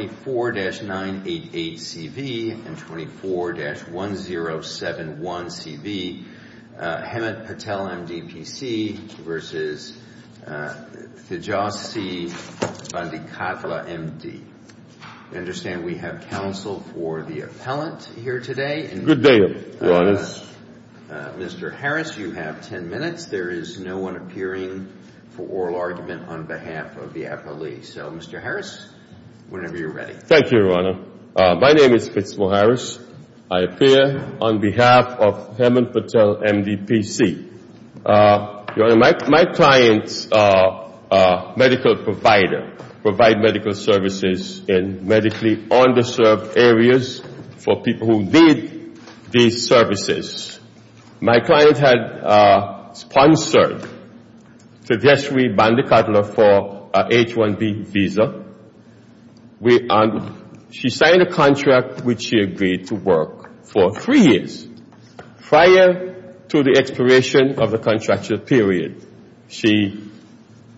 I understand we have counsel for the appellant here today, and Mr. Harris, you have ten minutes. There is no one appearing for oral argument on behalf of the appellee. So, Mr. Harris, whenever you're ready. Thank you, Your Honor. My name is Fitz Moharris. I appear on behalf of Hemant Patel, M.D., P.C. My clients are medical providers, provide medical services in medically underserved areas for people who need these services. My client had sponsored to just re-Bandikatla for a H-1B visa. She signed a contract which she agreed to work for three years prior to the expiration of the contractual period. She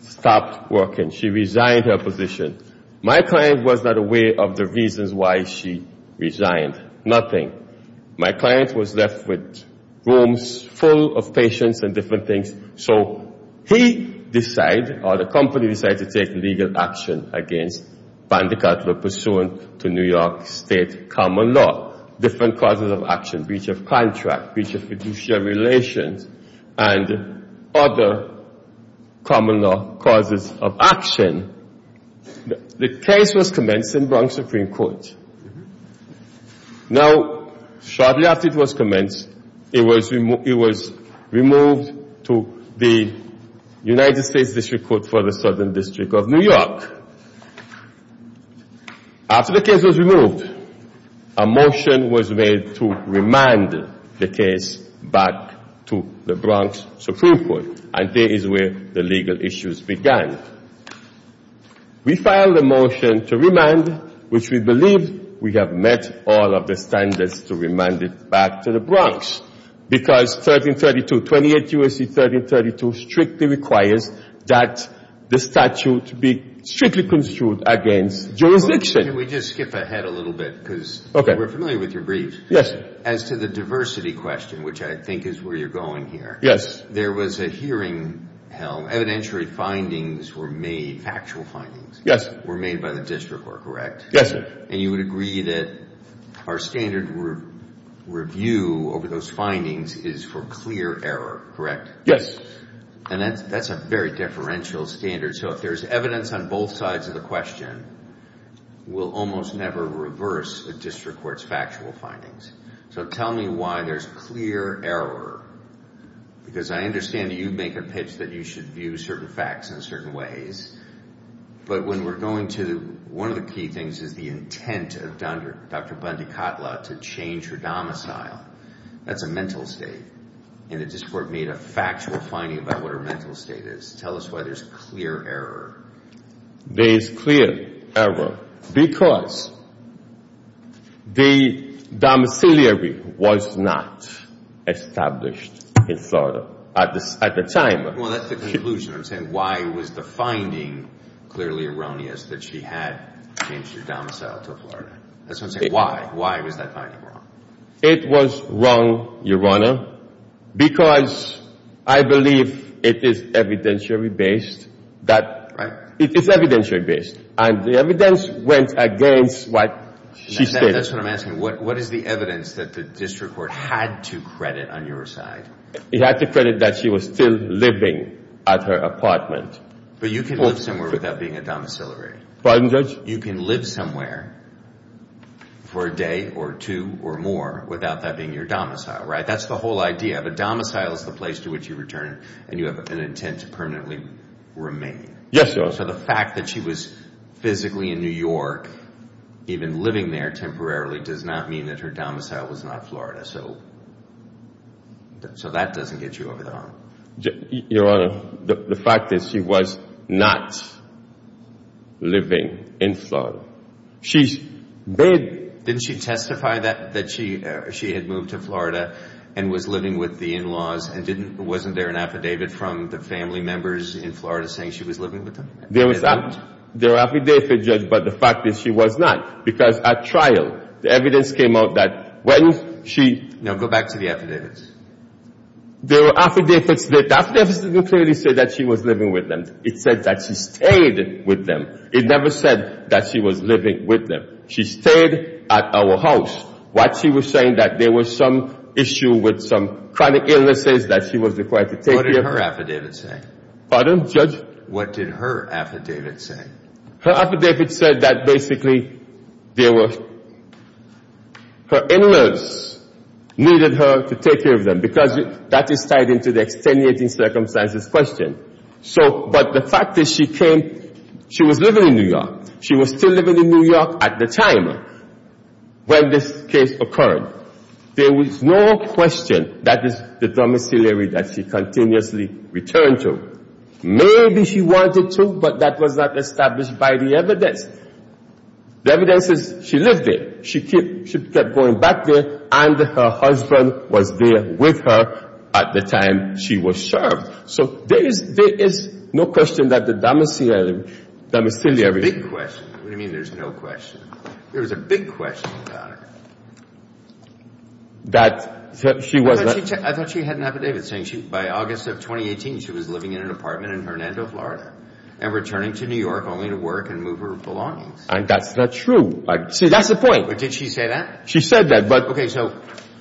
stopped working. She resigned her position. My client was not aware of the reasons why she resigned, nothing. My client was left with rooms full of patients and different things, so he decided, or the company decided to take legal action against Bandikatla pursuant to New York State common law. Different causes of action, breach of contract, breach of fiduciary relations, and other common law causes of action. The case was commenced in Bronx Supreme Court. Now, shortly after it was commenced, it was removed to the United States District Court for the Southern District of New York. After the case was removed, a motion was made to remand the case back to the Bronx Supreme Court, and this is where the legal issues began. We filed a motion to remand, which we believe we have met all of the standards to remand it back to the Bronx, because 1332, 28 U.S.C. 1332 strictly requires that the statute be strictly constituted against jurisdiction. Can we just skip ahead a little bit, because we're familiar with your briefs. Yes. As to the diversity question, which I think is where you're going here. Yes. There was a hearing held, evidentiary findings were made, factual findings were made by the District Court, correct? Yes, sir. And you would agree that our standard review over those findings is for clear error, correct? Yes. And that's a very differential standard. So if there's evidence on both sides of the question, we'll almost never reverse a district court's factual findings. So tell me why there's clear error, because I understand that you make a pitch that you should view certain facts in certain ways, but when we're going to, one of the key things is the intent of Dr. Bundy-Kotla to change her domicile. That's a mental state. And the District Court made a factual finding about what her mental state is. Tell us why there's clear error. There is clear error because the domiciliary was not established in Florida at the time. Well, that's the conclusion. I'm saying why was the finding clearly erroneous that she had changed her domicile to Florida? That's what I'm saying. Why? Why was that finding wrong? It was wrong, Your Honor, because I believe it is evidentiary-based that... Right. It is evidentiary-based. And the evidence went against what she stated. That's what I'm asking. What is the evidence that the District Court had to credit on your side? It had to credit that she was still living at her apartment. But you can live somewhere without being a domiciliary. Pardon, Judge? You can live somewhere for a day or two or more without that being your domicile, right? That's the whole idea. But domicile is the place to which you return and you have an intent to permanently remain. Yes, Your Honor. So the fact that she was physically in New York, even living there temporarily, does not mean that her domicile was not Florida. So that doesn't get you over the hump. Your Honor, the fact is she was not living in Florida. She's been... Didn't she testify that she had moved to Florida and was living with the in-laws and wasn't there an affidavit from the family members in Florida saying she was living with them? There was an affidavit, Judge, but the fact is she was not. Because at trial, the evidence came out that when she... No, go back to the affidavits. There were affidavits that... The affidavits didn't clearly say that she was living with them. It said that she stayed with them. It never said that she was living with them. She stayed at our house while she was saying that there was some issue with some chronic illnesses that she was required to take care of. What did her affidavit say? Pardon, Judge? What did her affidavit say? Her affidavit said that basically there were... Her in-laws needed her to take care of them because that is tied into the extenuating circumstances question. But the fact is she came... She was living in New York. She was still living in New York at the time when this case occurred. There was no question that it's the domiciliary that she continuously returned to. Maybe she wanted to, but that was not established by the evidence. The evidence is she lived there. She kept going back there, and her husband was there with her at the time she was served. So there is no question that the domiciliary... There's a big question. What do you mean there's no question? There was a big question about her. That she was not... I thought she had an affidavit saying by August of 2018 she was living in an apartment in Hernando, Florida, and returning to New York only to work and move her belongings. That's not true. See, that's the point. But did she say that? She said that, but... Okay, so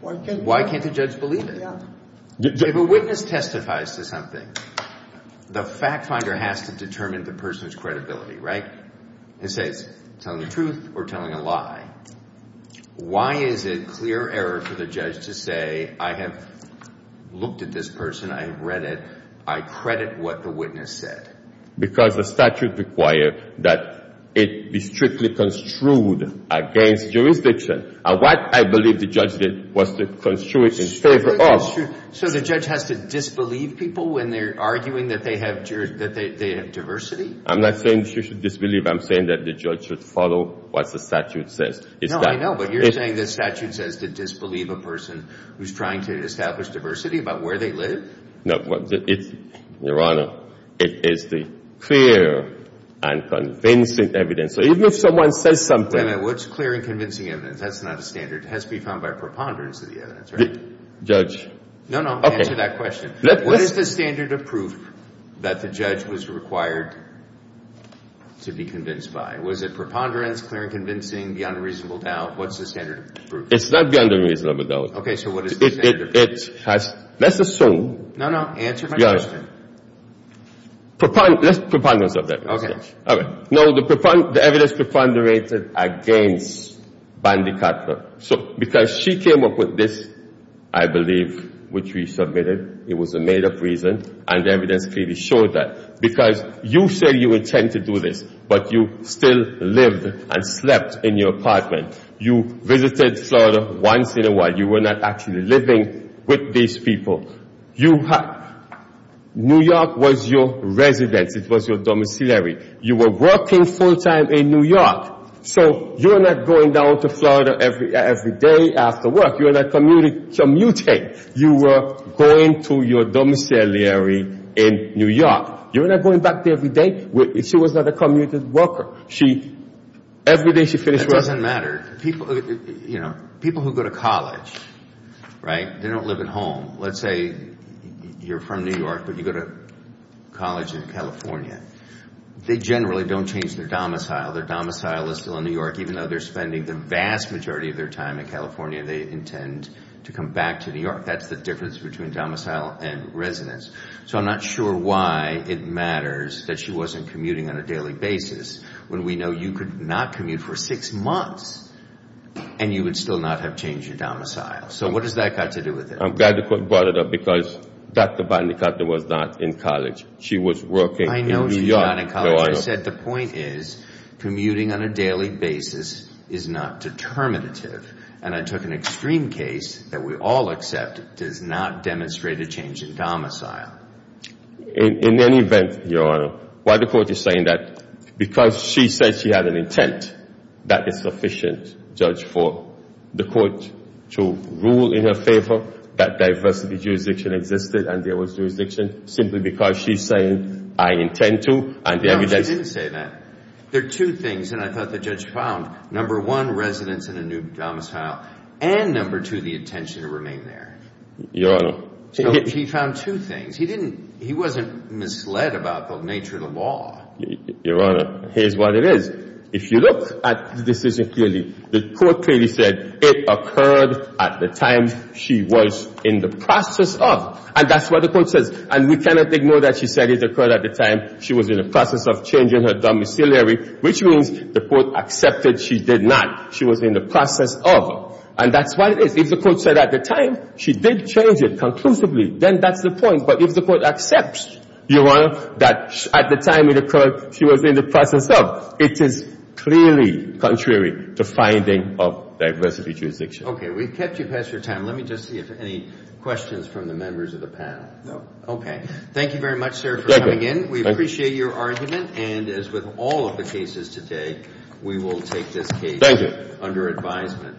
why can't the judge believe it? If a witness testifies to something, the fact finder has to determine the person's credibility, right? It says telling the truth or telling a lie. Why is it clear error for the judge to say, I have looked at this person, I have read it, I credit what the witness said? Because the statute requires that it be strictly construed against jurisdiction. What I believe the judge did was to construe it in favor of... So the judge has to disbelieve people when they're arguing that they have diversity? I'm not saying she should disbelieve, I'm saying that the judge should follow what the statute says. No, I know, but you're saying the statute says to disbelieve a person who's trying to establish diversity about where they live? No, Your Honor, it is the clear and convincing evidence. So even if someone says something... What's clear and convincing evidence? That's not a standard. It has to be found by preponderance of the evidence, right? Judge... No, no, answer that question. Okay. What is the standard of proof that the judge was required to be convinced by? Was it preponderance, clear and convincing, beyond a reasonable doubt? What's the standard of proof? It's not beyond a reasonable doubt. Okay, so what is the standard of proof? Let's assume... No, no, answer my question. Let's preponderance of the evidence. All right. Now, the evidence preponderated against Bandicatna, because she came up with this, I believe, which we submitted. It was a made-up reason, and the evidence clearly showed that. Because you say you intend to do this, but you still lived and slept in your apartment. You visited Florida once in a while. You were not actually living with these people. New York was your residence. It was your domiciliary. You were working full-time in New York. So, you're not going down to Florida every day after work. You're not commuting. You were going to your domiciliary in New York. You're not going back there every day. She was not a commuted worker. Every day she finished work... That doesn't matter. People who go to college, they don't live at home. Let's say you're from New York, but you go to college in California. They generally don't change their domicile. Their domicile is still in New York, even though they're spending the vast majority of their time in California. They intend to come back to New York. That's the difference between domicile and residence. So, I'm not sure why it matters that she wasn't commuting on a daily basis, when we know you could not commute for six months, and you would still not have changed your domicile. So, what does that got to do with it? I'm glad the court brought it up, because Dr. Van de Katten was not in college. She was working in New York. I know she's not in college. I said the point is, commuting on a daily basis is not determinative. And I took an extreme case that we all accept does not demonstrate a change in domicile. In any event, Your Honor, why the court is saying that? Because she said she had an intent that is sufficient, Judge, for the court to rule in her favor that diversity jurisdiction existed and there was jurisdiction, simply because she's saying, I intend to, and the evidence... No, she didn't say that. There are two things, and I thought the judge found. Number one, residence in a new domicile, and number two, the intention to remain there. Your Honor... He found two things. He wasn't misled about the nature of the law. Your Honor, here's what it is. If you look at the decision clearly, the court clearly said it occurred at the time she was in the process of. And that's what the court says. And we cannot ignore that she said it occurred at the time she was in the process of changing her domiciliary, which means the court accepted she did not. She was in the process of. And that's what it is. If the court said at the time she did change it conclusively, then that's the point. But if the court accepts, Your Honor, that at the time it occurred she was in the process of, it is clearly contrary to finding of diversity jurisdiction. Okay, we've kept you past your time. Let me just see if there are any questions from the members of the panel. No. Okay. Thank you very much, sir, for coming in. We appreciate your argument. And as with all of the cases today, we will take this case under advisement.